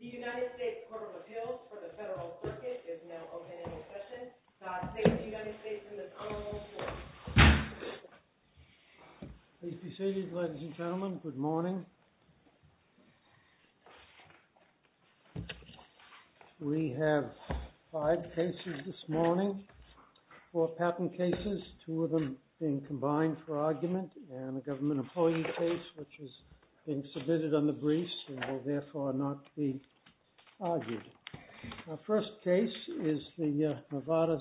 The United States Court of Appeals for the Federal Circuit is now open for discussion. Dr. Sainz, the United States and the Federal Court. Please be seated, ladies and gentlemen. Good morning. We have five cases this morning, four patent cases, two of them being combined for argument, and a government employee case which is being submitted under briefs and will therefore not be argued. Our first case is the Novartis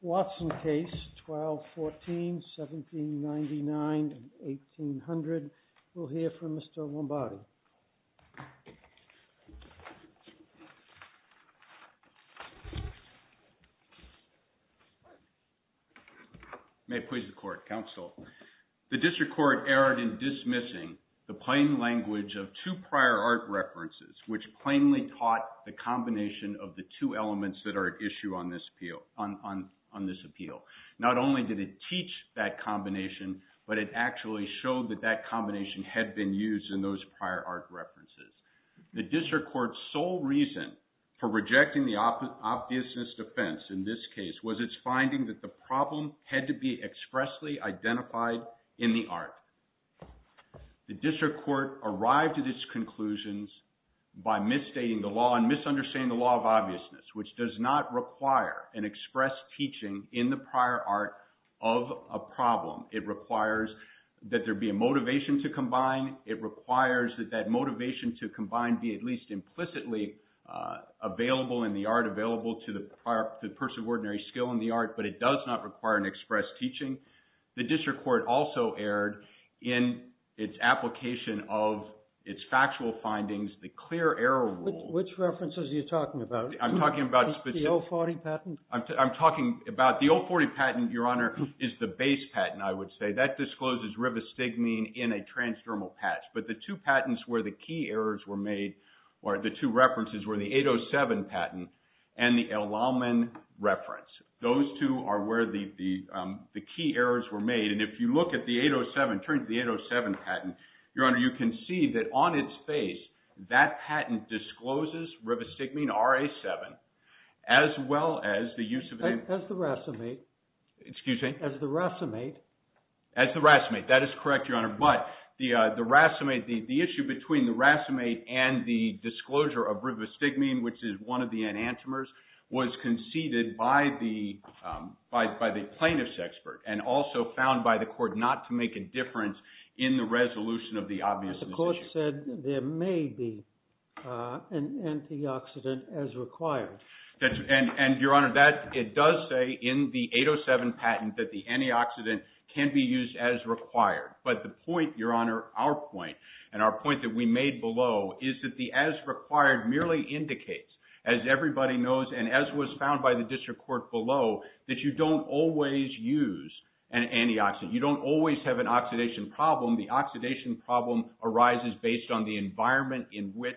Watson case 12-14-1799-1800. We'll hear from Mr. Lombardi. May it please the Court, counsel. The district court erred in dismissing the plain language of two prior art references which plainly taught the combination of the two elements that are at issue on this appeal. Not only did it teach that combination, but it actually showed that that combination had been used in those prior art references. The district court's sole reason for rejecting the obviousness defense in this case was its finding that the problem had to be expressly identified in the art. The district court arrived at its conclusions by misstating the law and misunderstanding the law of obviousness which does not require an express teaching in the prior art of a problem. It requires that there be a motivation to combine. It requires that that motivation to combine be at least implicitly available in the art, available to the person of ordinary skill in the art, but it does not require an express teaching. The district court also erred in its application of its factual findings, the clear error rule. Which references are you talking about? I'm talking about the 040 patent. I'm talking about the 040 patent, Your Honor, is the base patent, I would say. That discloses rivastigmine in a transdermal patch, but the two patents where the key errors were made or the two references were the 807 patent and the El Alman reference. Those two are where the key errors were made, and if you look at the 807, turn to the 807 patent, Your Honor, you can see that on its face that patent discloses rivastigmine RA7 as well as the use of the… As the racemate. Excuse me? As the racemate. As the racemate. That is correct, Your Honor, but the issue between the racemate and the disclosure of rivastigmine, which is one of the enantiomers, was conceded by the plaintiff's expert and also found by the court not to make a difference in the resolution of the obvious issue. But the court said there may be an antioxidant as required. And, Your Honor, it does say in the 807 patent that the antioxidant can be used as required, but the point, Your Honor, our point, and our point that we made below is that the as required merely indicates, as everybody knows and as was found by the district court below, that you don't always use an antioxidant. You don't always have an oxidation problem. The oxidation problem arises based on the environment in which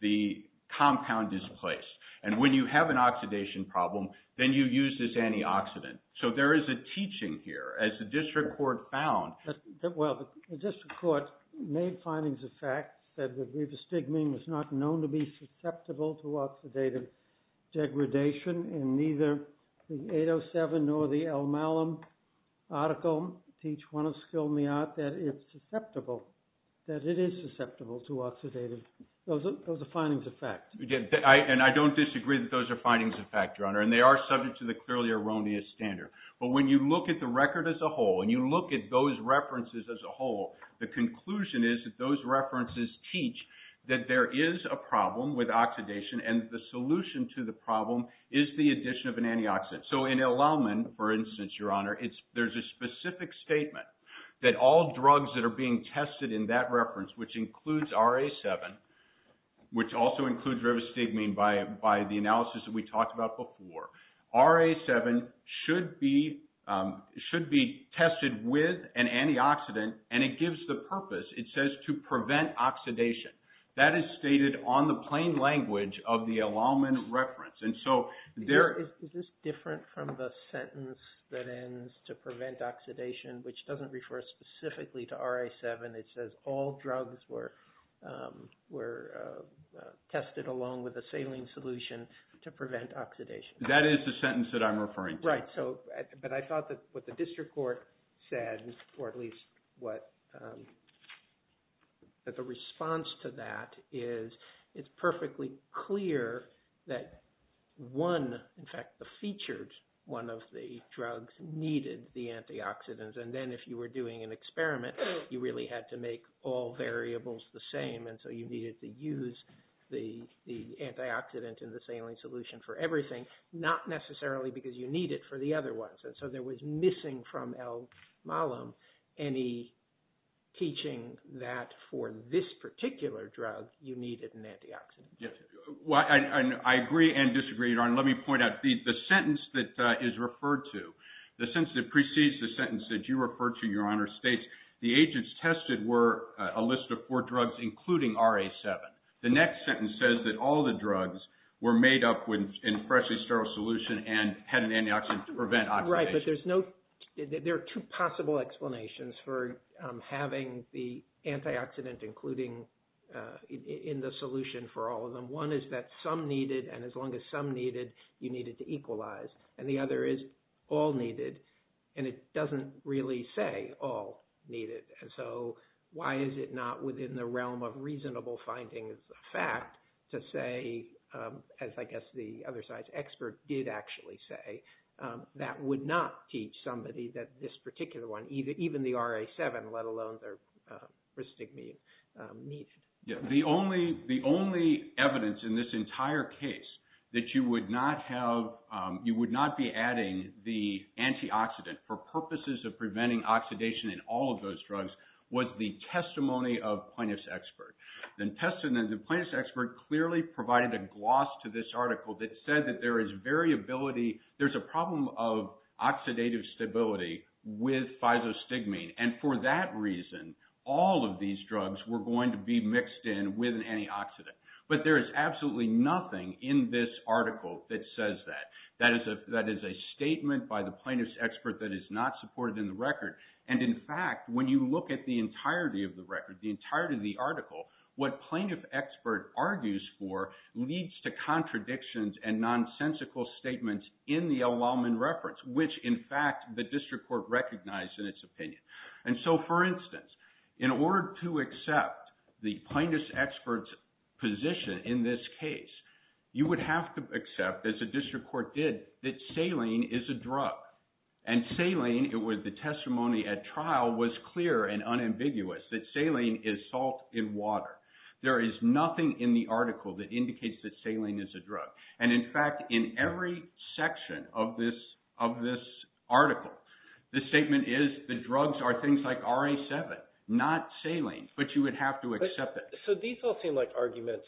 the compound is placed. And when you have an oxidation problem, then you use this antioxidant. So there is a teaching here, as the district court found. Well, the district court made findings of fact, said that rivastigmine was not known to be susceptible to oxidative degradation, and neither the 807 nor the Elmalem article teach one of skill in the art that it's susceptible, that it is susceptible to oxidative degradation. Those are findings of fact. And I don't disagree that those are findings of fact, Your Honor, and they are subject to the clearly erroneous standard. But when you look at the record as a whole, and you look at those references as a whole, the conclusion is that those references teach that there is a problem with oxidation, and the solution to the problem is the addition of an antioxidant. So in Elmalem, for instance, Your Honor, there's a specific statement that all drugs that are being tested in that reference, which includes RA7, which also includes rivastigmine by the analysis that we talked about before, RA7 should be tested with an antioxidant, and it gives the purpose, it says, to prevent oxidation. That is stated on the plain language of the Elmalem reference. And so there – Is this different from the sentence that ends to prevent oxidation, which doesn't refer specifically to RA7? It says all drugs were tested along with a saline solution to prevent oxidation. That is the sentence that I'm referring to. Right, so – but I thought that what the district court said, or at least what – that the response to that is it's perfectly clear that one – in fact, the featured one of the drugs needed the antioxidants, and then if you were doing an experiment, you really had to make all variables the same, and so you needed to use the antioxidant and the saline solution for everything, not necessarily because you need it for the other ones. And so there was missing from Elmalem any teaching that for this particular drug, you needed an antioxidant. Yes. I agree and disagree, Your Honor. Let me point out, the sentence that is referred to, the sentence that precedes the sentence that you referred to, Your Honor, states the agents tested were a list of four drugs, including RA7. The next sentence says that all the drugs were made up in a freshly sterile solution and had an antioxidant to prevent oxidation. Right, but there's no – there are two possible explanations for having the antioxidant included in the solution for all of them. One is that some needed, and as long as some needed, you needed to equalize. And the other is all needed, and it doesn't really say all needed. And so why is it not within the realm of reasonable findings of fact to say, as I guess the other side's expert did actually say, that would not teach somebody that this particular one, even the RA7, let alone their pristigmine, needed. The only evidence in this entire case that you would not have – you would not be adding the antioxidant for purposes of preventing oxidation in all of those drugs was the testimony of plaintiff's expert. The plaintiff's expert clearly provided a gloss to this article that said that there is variability – there's a problem of oxidative stability with But there is absolutely nothing in this article that says that. That is a statement by the plaintiff's expert that is not supported in the record. And, in fact, when you look at the entirety of the record, the entirety of the article, what plaintiff expert argues for leads to contradictions and nonsensical statements in the El-Walman reference, which, in fact, the district court recognized in its opinion. And so, for instance, in order to accept the plaintiff's expert's position in this case, you would have to accept, as the district court did, that saline is a drug. And saline, it was the testimony at trial, was clear and unambiguous that saline is salt in water. There is nothing in the article that indicates that saline is a drug. And, in fact, in every section of this article, the statement is the drugs are things like RA-7, not saline, but you would have to accept it. So these all seem like arguments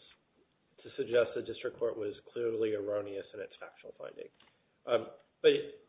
to suggest the district court was clearly erroneous in its factual finding. But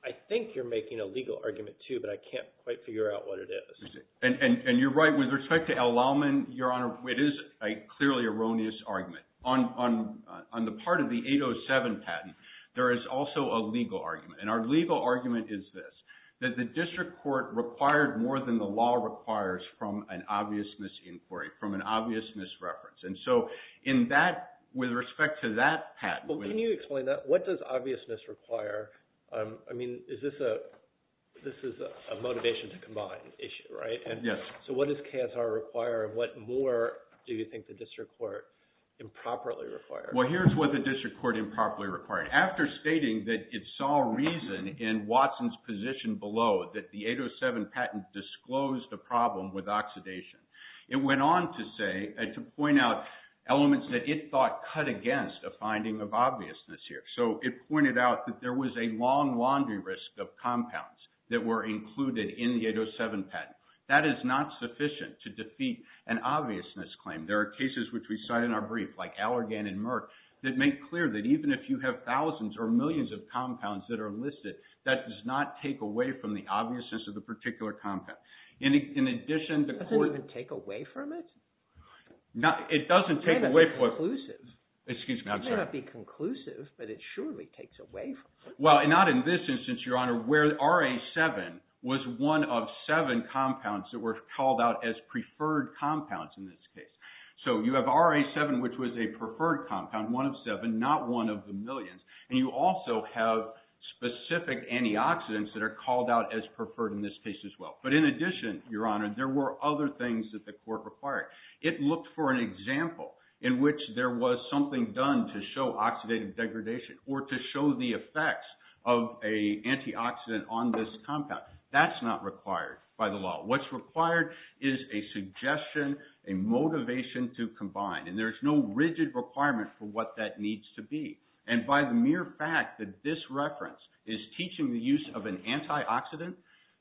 I think you're making a legal argument, too, but I can't quite figure out what it is. And you're right. With respect to El-Walman, Your Honor, it is a clearly erroneous argument. On the part of the 807 patent, there is also a legal argument. And our legal argument is this, that the district court required more than the law requires from an obvious misinquiry, from an obvious misreference. And so, in that, with respect to that patent— Well, can you explain that? What does obviousness require? I mean, is this a—this is a motivation to combine issue, right? Yes. So what does KSR require, and what more do you think the district court improperly required? Well, here's what the district court improperly required. After stating that it saw reason in Watson's position below that the 807 patent disclosed a problem with oxidation, it went on to say—to point out elements that it thought cut against a finding of obviousness here. So it pointed out that there was a long laundry list of compounds that were included in the 807 patent. That is not sufficient to defeat an obviousness claim. There are cases, which we cite in our brief, like Allergan and Merck, that make clear that even if you have thousands or millions of compounds that are listed, that does not take away from the obviousness of the particular compound. In addition, the court— It doesn't even take away from it? It doesn't take away from it. It may not be conclusive. Excuse me, I'm sorry. It may not be conclusive, but it surely takes away from it. Well, not in this instance, Your Honor, where RA-7 was one of seven compounds that were called out as preferred compounds in this case. So you have RA-7, which was a preferred compound, one of seven, not one of the millions. And you also have specific antioxidants that are called out as preferred in this case as well. But in addition, Your Honor, there were other things that the court required. It looked for an example in which there was something done to show oxidative degradation or to show the effects of an antioxidant on this compound. That's not required by the law. What's required is a suggestion, a motivation to combine, and there's no rigid requirement for what that needs to be. And by the mere fact that this reference is teaching the use of an antioxidant,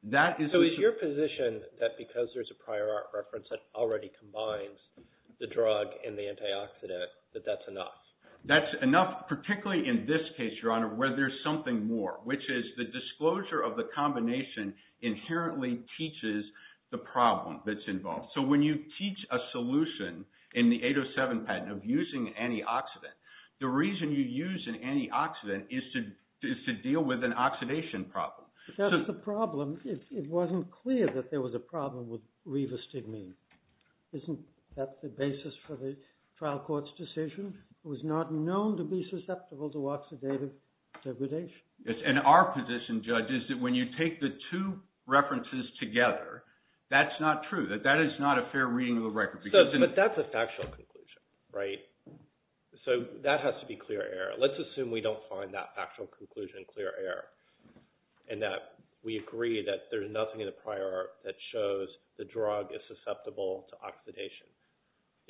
that is— I'm in the position that because there's a prior art reference that already combines the drug and the antioxidant, that that's enough. That's enough, particularly in this case, Your Honor, where there's something more, which is the disclosure of the combination inherently teaches the problem that's involved. So when you teach a solution in the 807 patent of using an antioxidant, the reason you use an antioxidant is to deal with an oxidation problem. That's the problem. It wasn't clear that there was a problem with rivastigmine. Isn't that the basis for the trial court's decision? It was not known to be susceptible to oxidative degradation. And our position, Judge, is that when you take the two references together, that's not true. That is not a fair reading of the record. But that's a factual conclusion, right? So that has to be clear error. Let's assume we don't find that factual conclusion clear error and that we agree that there's nothing in the prior art that shows the drug is susceptible to oxidation.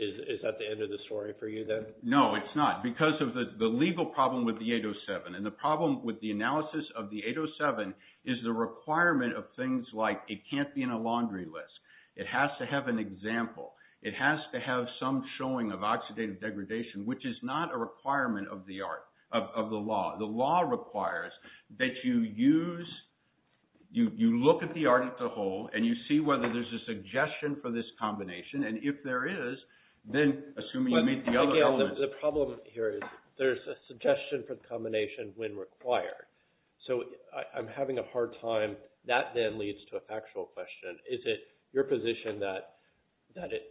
Is that the end of the story for you then? No, it's not because of the legal problem with the 807. And the problem with the analysis of the 807 is the requirement of things like it can't be in a laundry list. It has to have an example. It has to have some showing of oxidative degradation, which is not a requirement of the law. The law requires that you look at the article whole and you see whether there's a suggestion for this combination. And if there is, then assuming you meet the other elements. Again, the problem here is there's a suggestion for the combination when required. So I'm having a hard time. That then leads to a factual question. Is it your position that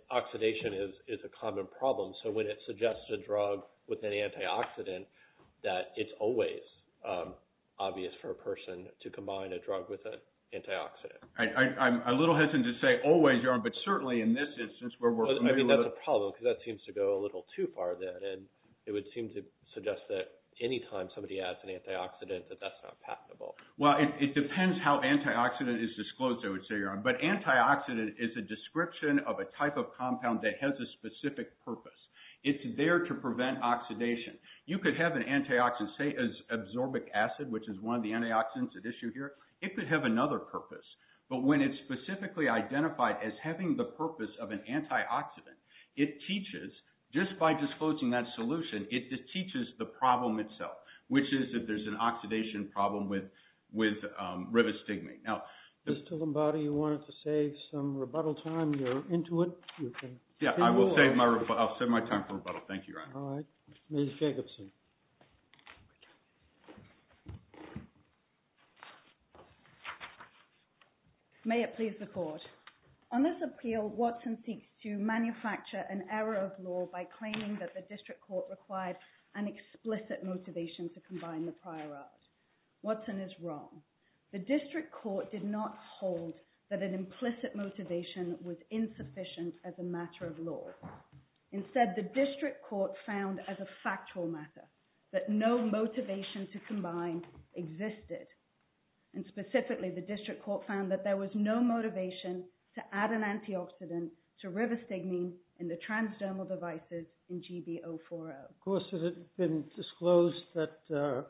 oxidation is a common problem? So when it suggests a drug with an antioxidant that it's always obvious for a person to combine a drug with an antioxidant? I'm a little hesitant to say always, but certainly in this instance where we're familiar with it. I mean, that's a problem because that seems to go a little too far then. And it would seem to suggest that any time somebody adds an antioxidant that that's not patentable. Well, it depends how antioxidant is disclosed, I would say. But antioxidant is a description of a type of compound that has a specific purpose. It's there to prevent oxidation. You could have an antioxidant, say, as absorbic acid, which is one of the antioxidants at issue here. It could have another purpose. But when it's specifically identified as having the purpose of an antioxidant, it teaches, just by disclosing that solution, it teaches the problem itself, which is if there's an oxidation problem with rivastigmine. Mr. Lombardi, you wanted to save some rebuttal time. You're into it. Yeah, I will save my time for rebuttal. Thank you, Your Honor. All right. Ms. Jacobson. May it please the Court. On this appeal, Watson seeks to manufacture an error of law by claiming that the district court required an explicit motivation to combine the prior art. Watson is wrong. The district court did not hold that an implicit motivation was insufficient as a matter of law. Instead, the district court found as a factual matter that no motivation to combine existed. And specifically, the district court found that there was no motivation to add an antioxidant to rivastigmine in the transdermal devices in GB040. Of course, it had been disclosed that a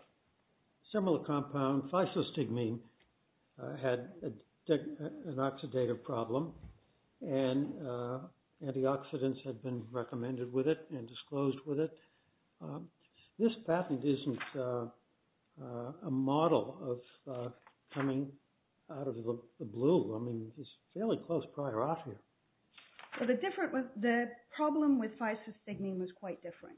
similar compound, physostigmine, had an oxidative problem, and antioxidants had been recommended with it and disclosed with it. This patent isn't a model of coming out of the blue. I mean, it's fairly close prior art here. The problem with physostigmine was quite different.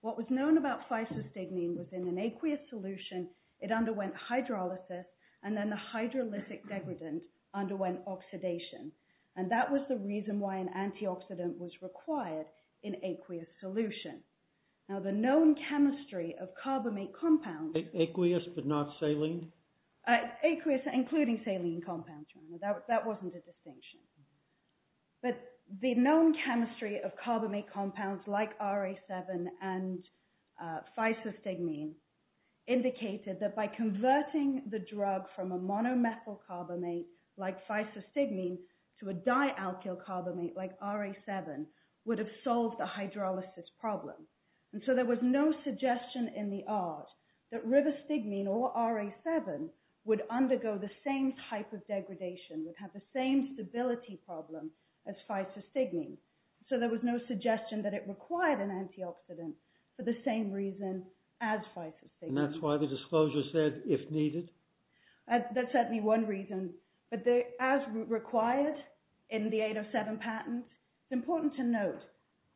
What was known about physostigmine was in an aqueous solution, it underwent hydrolysis, and then the hydrolytic degradant underwent oxidation. And that was the reason why an antioxidant was required in aqueous solution. Now, the known chemistry of carbamate compounds… Aqueous but not saline? Aqueous, including saline compounds. That wasn't a distinction. But the known chemistry of carbamate compounds like RA7 and physostigmine indicated that by converting the drug from a monomethyl carbamate like physostigmine to a dialkyl carbamate like RA7 would have solved the hydrolysis problem. And so there was no suggestion in the art that rivastigmine or RA7 would undergo the same type of degradation, would have the same stability problem as physostigmine. So there was no suggestion that it required an antioxidant for the same reason as physostigmine. And that's why the disclosure said, if needed? That's certainly one reason. But as required in the 807 patent, it's important to note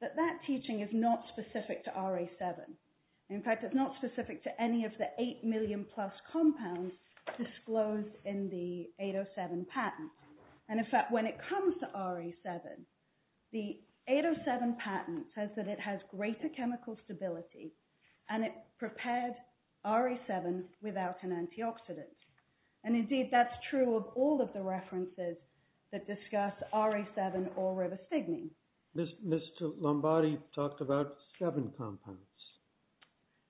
that that teaching is not specific to RA7. In fact, it's not specific to any of the 8 million plus compounds disclosed in the 807 patent. And in fact, when it comes to RA7, the 807 patent says that it has greater chemical stability, and it prepared RA7 without an antioxidant. And indeed, that's true of all of the references that discuss RA7 or rivastigmine. Mr. Lombardi talked about seven compounds.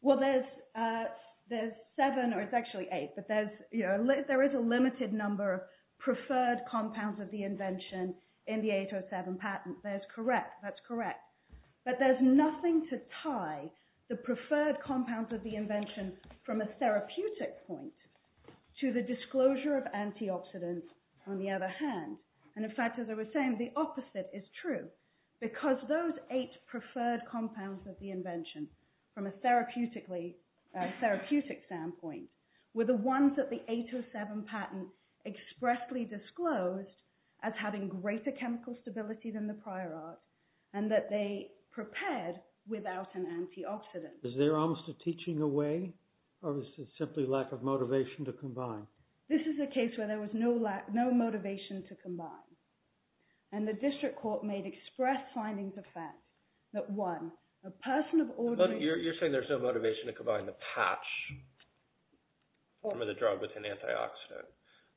Well, there's seven, or it's actually eight. But there is a limited number of preferred compounds of the invention in the 807 patent. That's correct. But there's nothing to tie the preferred compounds of the invention from a therapeutic point to the disclosure of antioxidants on the other hand. And in fact, as I was saying, the opposite is true. Because those eight preferred compounds of the invention, from a therapeutic standpoint, were the ones that the 807 patent expressly disclosed as having greater chemical stability than the prior art, and that they prepared without an antioxidant. Is there almost a teaching away? Or is it simply lack of motivation to combine? This is a case where there was no motivation to combine. And the district court made express findings of fact that one, a person of ordinary... You're saying there's no motivation to combine the patch form of the drug with an antioxidant.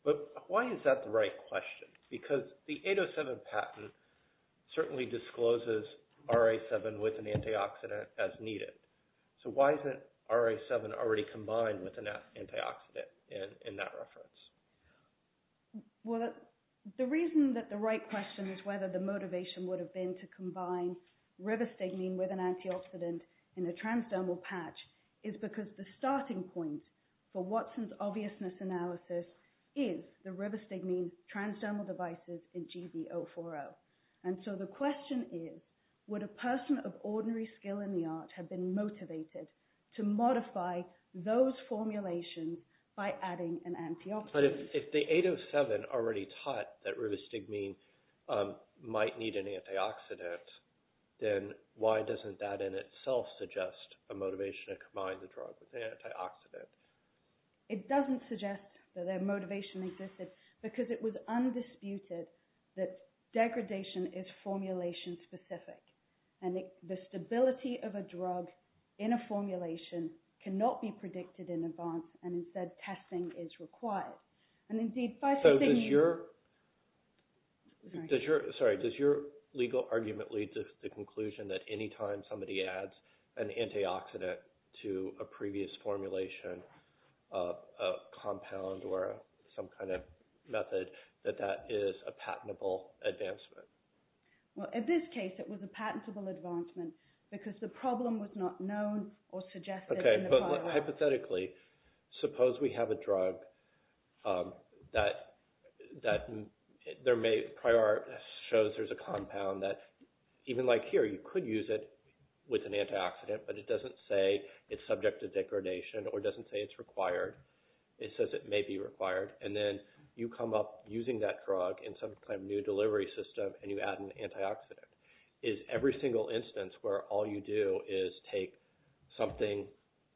But why is that the right question? Because the 807 patent certainly discloses RA7 with an antioxidant as needed. So why isn't RA7 already combined with an antioxidant in that reference? Well, the reason that the right question is whether the motivation would have been to combine rivastigmine with an antioxidant in a transdermal patch is because the starting point for Watson's obviousness analysis is the rivastigmine transdermal devices in Gb040. And so the question is, would a person of ordinary skill in the art have been motivated to modify those formulations by adding an antioxidant? But if the 807 already taught that rivastigmine might need an antioxidant, then why doesn't that in itself suggest a motivation to combine the drug with an antioxidant? It doesn't suggest that their motivation existed because it was undisputed that degradation is formulation specific. And the stability of a drug in a formulation cannot be predicted in advance. And instead, testing is required. So does your legal argument lead to the conclusion that any time somebody adds an antioxidant to a previous formulation, a compound, or some kind of method, that that is a patentable advancement? Well, in this case, it was a patentable advancement because the problem was not known or suggested in the pilot. So hypothetically, suppose we have a drug that shows there's a compound that, even like here, you could use it with an antioxidant, but it doesn't say it's subject to degradation or doesn't say it's required. It says it may be required. And then you come up using that drug in some kind of new delivery system, and you add an antioxidant. Is every single instance where all you do is take something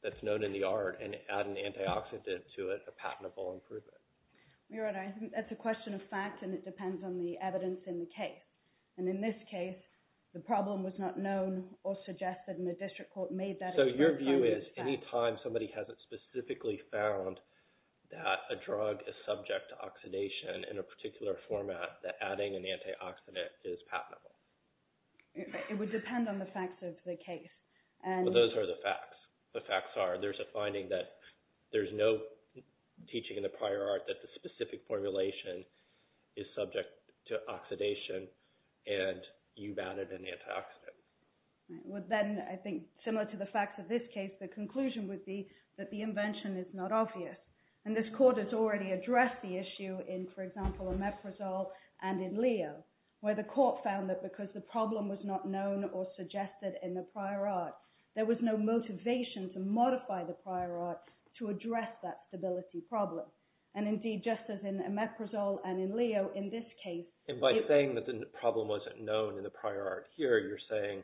that's known in the art and add an antioxidant to it a patentable improvement? Your Honor, I think that's a question of fact, and it depends on the evidence in the case. And in this case, the problem was not known or suggested, and the district court made that a patentable advancement. So your view is any time somebody hasn't specifically found that a drug is subject to oxidation in a particular format, that adding an antioxidant is patentable? It would depend on the facts of the case. Well, those are the facts. The facts are there's a finding that there's no teaching in the prior art that the specific formulation is subject to oxidation, and you've added an antioxidant. Well, then I think similar to the facts of this case, the conclusion would be that the invention is not obvious. And this court has already addressed the issue in, for example, Omeprazole and in Leo, where the court found that because the problem was not known or suggested in the prior art, there was no motivation to modify the prior art to address that stability problem. And indeed, just as in Omeprazole and in Leo, in this case— And by saying that the problem wasn't known in the prior art here, you're saying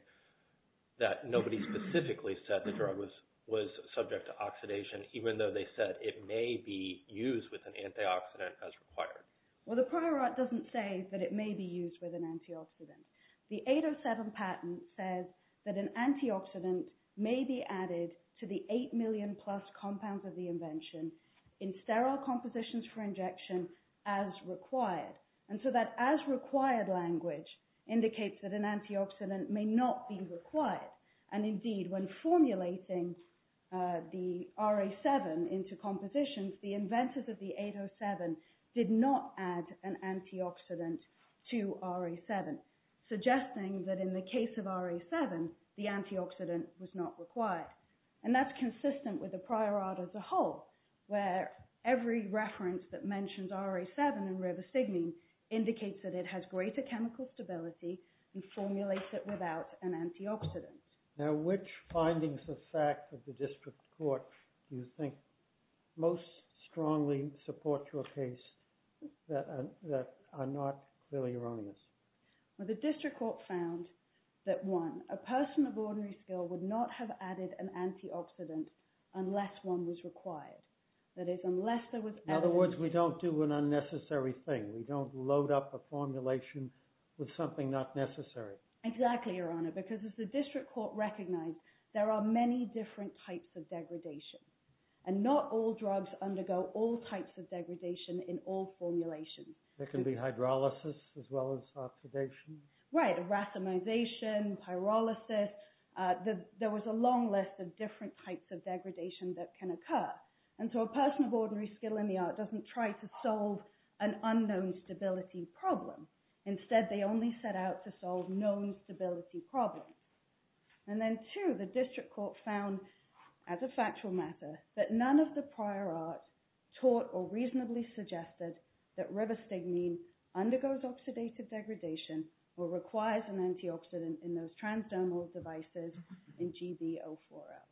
that nobody specifically said the drug was subject to oxidation, even though they said it may be used with an antioxidant as required. Well, the prior art doesn't say that it may be used with an antioxidant. The 807 patent says that an antioxidant may be added to the 8 million plus compounds of the invention in sterile compositions for injection as required. And so that as required language indicates that an antioxidant may not be required. And indeed, when formulating the RA7 into compositions, the inventors of the 807 did not add an antioxidant to RA7, suggesting that in the case of RA7, the antioxidant was not required. And that's consistent with the prior art as a whole, where every reference that mentions RA7 and rivastigmine indicates that it has greater chemical stability and formulates it without an antioxidant. Now, which findings of fact of the district court do you think most strongly support your case that are not clearly erroneous? Well, the district court found that one, a person of ordinary skill would not have added an antioxidant unless one was required. In other words, we don't do an unnecessary thing. We don't load up a formulation with something not necessary. Exactly, Your Honor, because as the district court recognized, there are many different types of degradation. And not all drugs undergo all types of degradation in all formulations. There can be hydrolysis as well as oxidation. Right, erasmization, pyrolysis. There was a long list of different types of degradation that can occur. And so a person of ordinary skill in the art doesn't try to solve an unknown stability problem. Instead, they only set out to solve known stability problems. And then two, the district court found, as a factual matter, that none of the prior art taught or reasonably suggested that rivastigmine undergoes oxidative degradation or requires an antioxidant in those transdermal devices in GbO4L.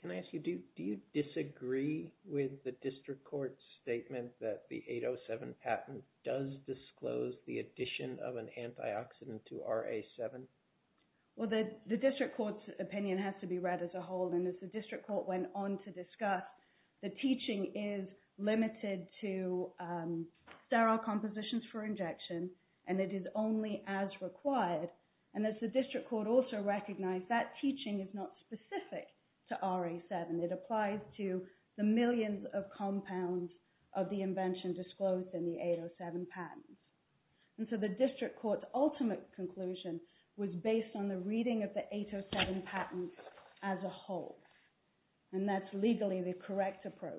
Can I ask you, do you disagree with the district court's statement that the 807 patent does disclose the addition of an antioxidant to RA7? Well, the district court's opinion has to be read as a whole. And as the district court went on to discuss, the teaching is limited to sterile compositions for injection, and it is only as required. And as the district court also recognized, that teaching is not specific to RA7. It applies to the millions of compounds of the invention disclosed in the 807 patent. And so the district court's ultimate conclusion was based on the reading of the 807 patent as a whole. And that's legally the correct approach.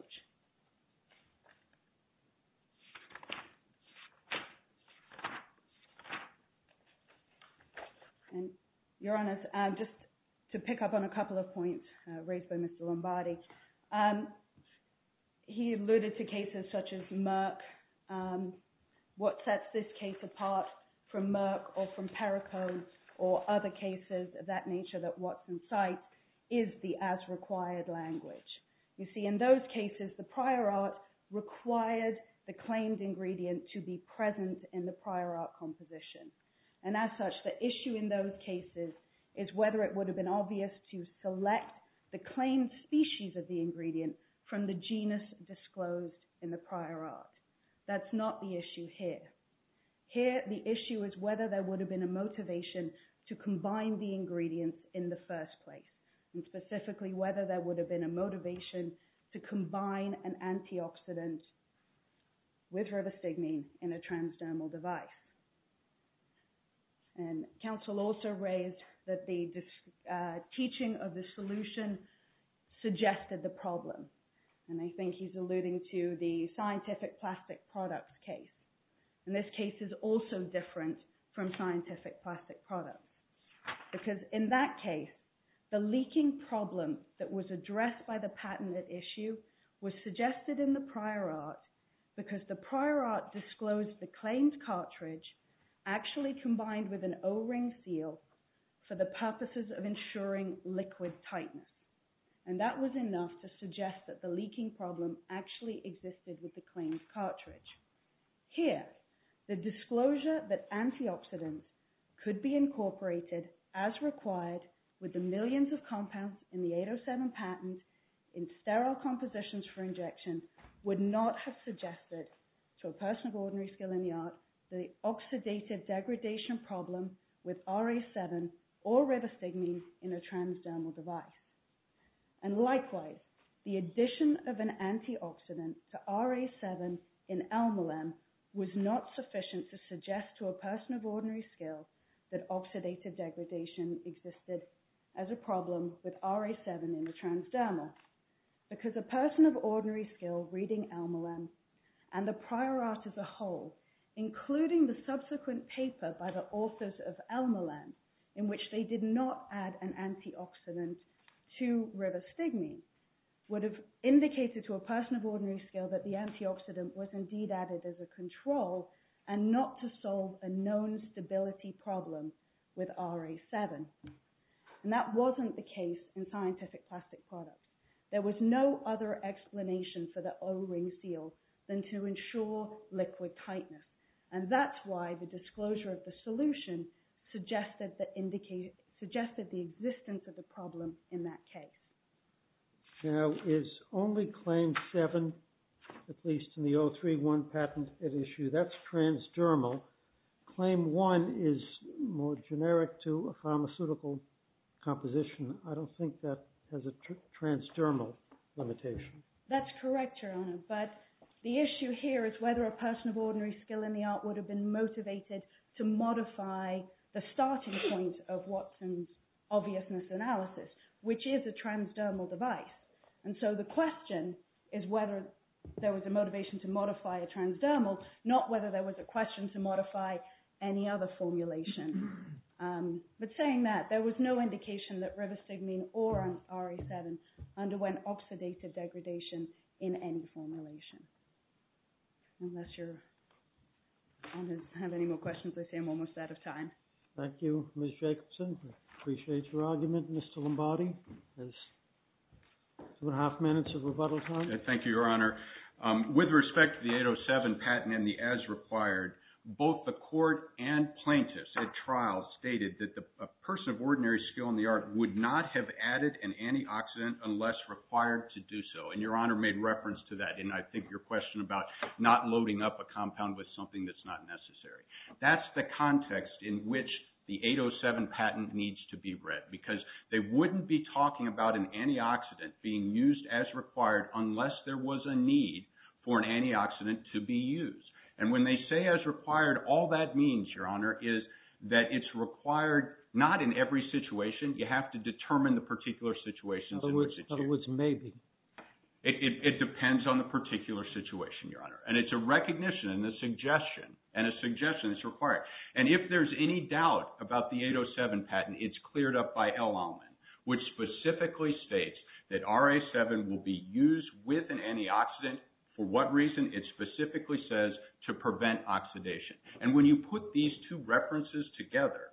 Your Honor, just to pick up on a couple of points raised by Mr. Lombardi, he alluded to cases such as Merck. What sets this case apart from Merck or from Pericode or other cases of that nature that Watson cites is the as-required language. You see, in those cases, the prior art required the claimed ingredient to be present in the prior art composition. And as such, the issue in those cases is whether it would have been obvious to select the claimed species of the ingredient from the genus disclosed in the prior art. That's not the issue here. Here, the issue is whether there would have been a motivation to combine the ingredients in the first place. And specifically, whether there would have been a motivation to combine an antioxidant with rivastigmine in a transdermal device. And counsel also raised that the teaching of the solution suggested the problem. And I think he's alluding to the scientific plastic products case. And this case is also different from scientific plastic products. Because in that case, the leaking problem that was addressed by the patented issue was suggested in the prior art because the prior art disclosed the claimed cartridge actually combined with an O-ring seal for the purposes of ensuring liquid tightness. And that was enough to suggest that the leaking problem actually existed with the claimed cartridge. Here, the disclosure that antioxidants could be incorporated as required with the millions of compounds in the 807 patent in sterile compositions for injection would not have suggested to a person of ordinary skill in the art the oxidative degradation problem with RA7 or rivastigmine in a transdermal device. And likewise, the addition of an antioxidant to RA7 in Elmolem was not sufficient to suggest to a person of ordinary skill that oxidative degradation existed as a problem with RA7 in the transdermal. Because a person of ordinary skill reading Elmolem and the prior art as a whole, including the subsequent paper by the authors of Elmolem, in which they did not add an antioxidant to rivastigmine, would have indicated to a person of ordinary skill that the antioxidant was indeed added as a control and not to solve a known stability problem with RA7. And that wasn't the case in scientific plastic products. There was no other explanation for the O-ring seal than to ensure liquid tightness. And that's why the disclosure of the solution suggested the existence of the problem in that case. Now, is only claim 7, at least in the 031 patent, at issue? That's transdermal. Claim 1 is more generic to a pharmaceutical composition. I don't think that has a transdermal limitation. That's correct, Your Honor. But the issue here is whether a person of ordinary skill in the art would have been motivated to modify the starting point of Watson's obviousness analysis, which is a transdermal device. And so the question is whether there was a motivation to modify a transdermal, not whether there was a question to modify any other formulation. But saying that, there was no indication that rivastigmine or RA7 underwent oxidative degradation in any formulation. Unless you have any more questions, I'm almost out of time. Thank you, Ms. Jacobson. I appreciate your argument, Mr. Lombardi. Two and a half minutes of rebuttal time. Thank you, Your Honor. With respect to the 807 patent and the as required, both the court and plaintiffs at trial stated that a person of ordinary skill in the art would not have added an antioxidant unless required to do so. And Your Honor made reference to that in, I think, your question about not loading up a compound with something that's not necessary. That's the context in which the 807 patent needs to be read because they wouldn't be talking about an antioxidant being used as required unless there was a need for an antioxidant to be used. And when they say as required, all that means, Your Honor, is that it's required not in every situation. You have to determine the particular situations in which it's used. In other words, maybe. And it's a recognition and a suggestion. And a suggestion is required. And if there's any doubt about the 807 patent, it's cleared up by L Allman, which specifically states that RA7 will be used with an antioxidant. For what reason? It specifically says to prevent oxidation. And when you put these two references together,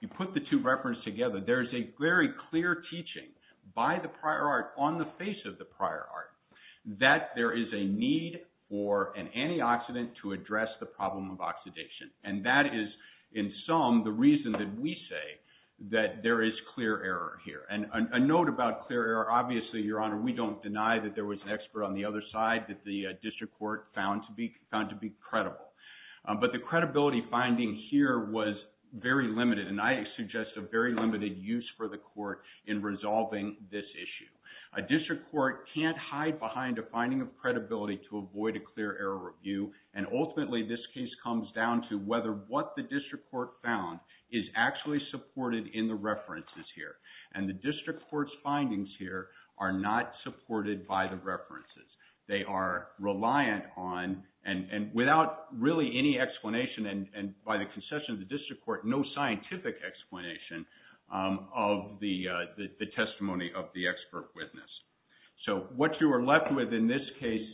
you put the two references together, there's a very clear teaching by the prior art on the face of the prior art that there is a need for an antioxidant to address the problem of oxidation. And that is, in sum, the reason that we say that there is clear error here. And a note about clear error, obviously, Your Honor, we don't deny that there was an expert on the other side that the district court found to be credible. But the credibility finding here was very limited. And I suggest a very limited use for the court in resolving this issue. A district court can't hide behind a finding of credibility to avoid a clear error review. And ultimately, this case comes down to whether what the district court found is actually supported in the references here. And the district court's findings here are not supported by the references. They are reliant on and without really any explanation and by the concession of the district court, no scientific explanation of the testimony of the expert witness. So what you are left with in this case,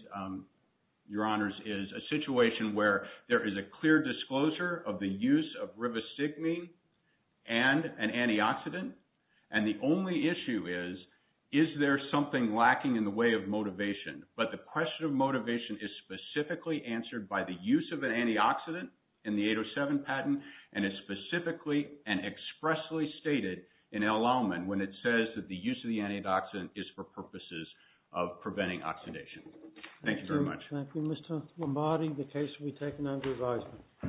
Your Honors, is a situation where there is a clear disclosure of the use of rivastigmine and an antioxidant. And the only issue is, is there something lacking in the way of motivation? But the question of motivation is specifically answered by the use of an antioxidant in the 807 patent. And it's specifically and expressly stated in El Alman when it says that the use of the antioxidant is for purposes of preventing oxidation. Thank you very much. Thank you, Mr. Lombardi. The case will be taken under advisement.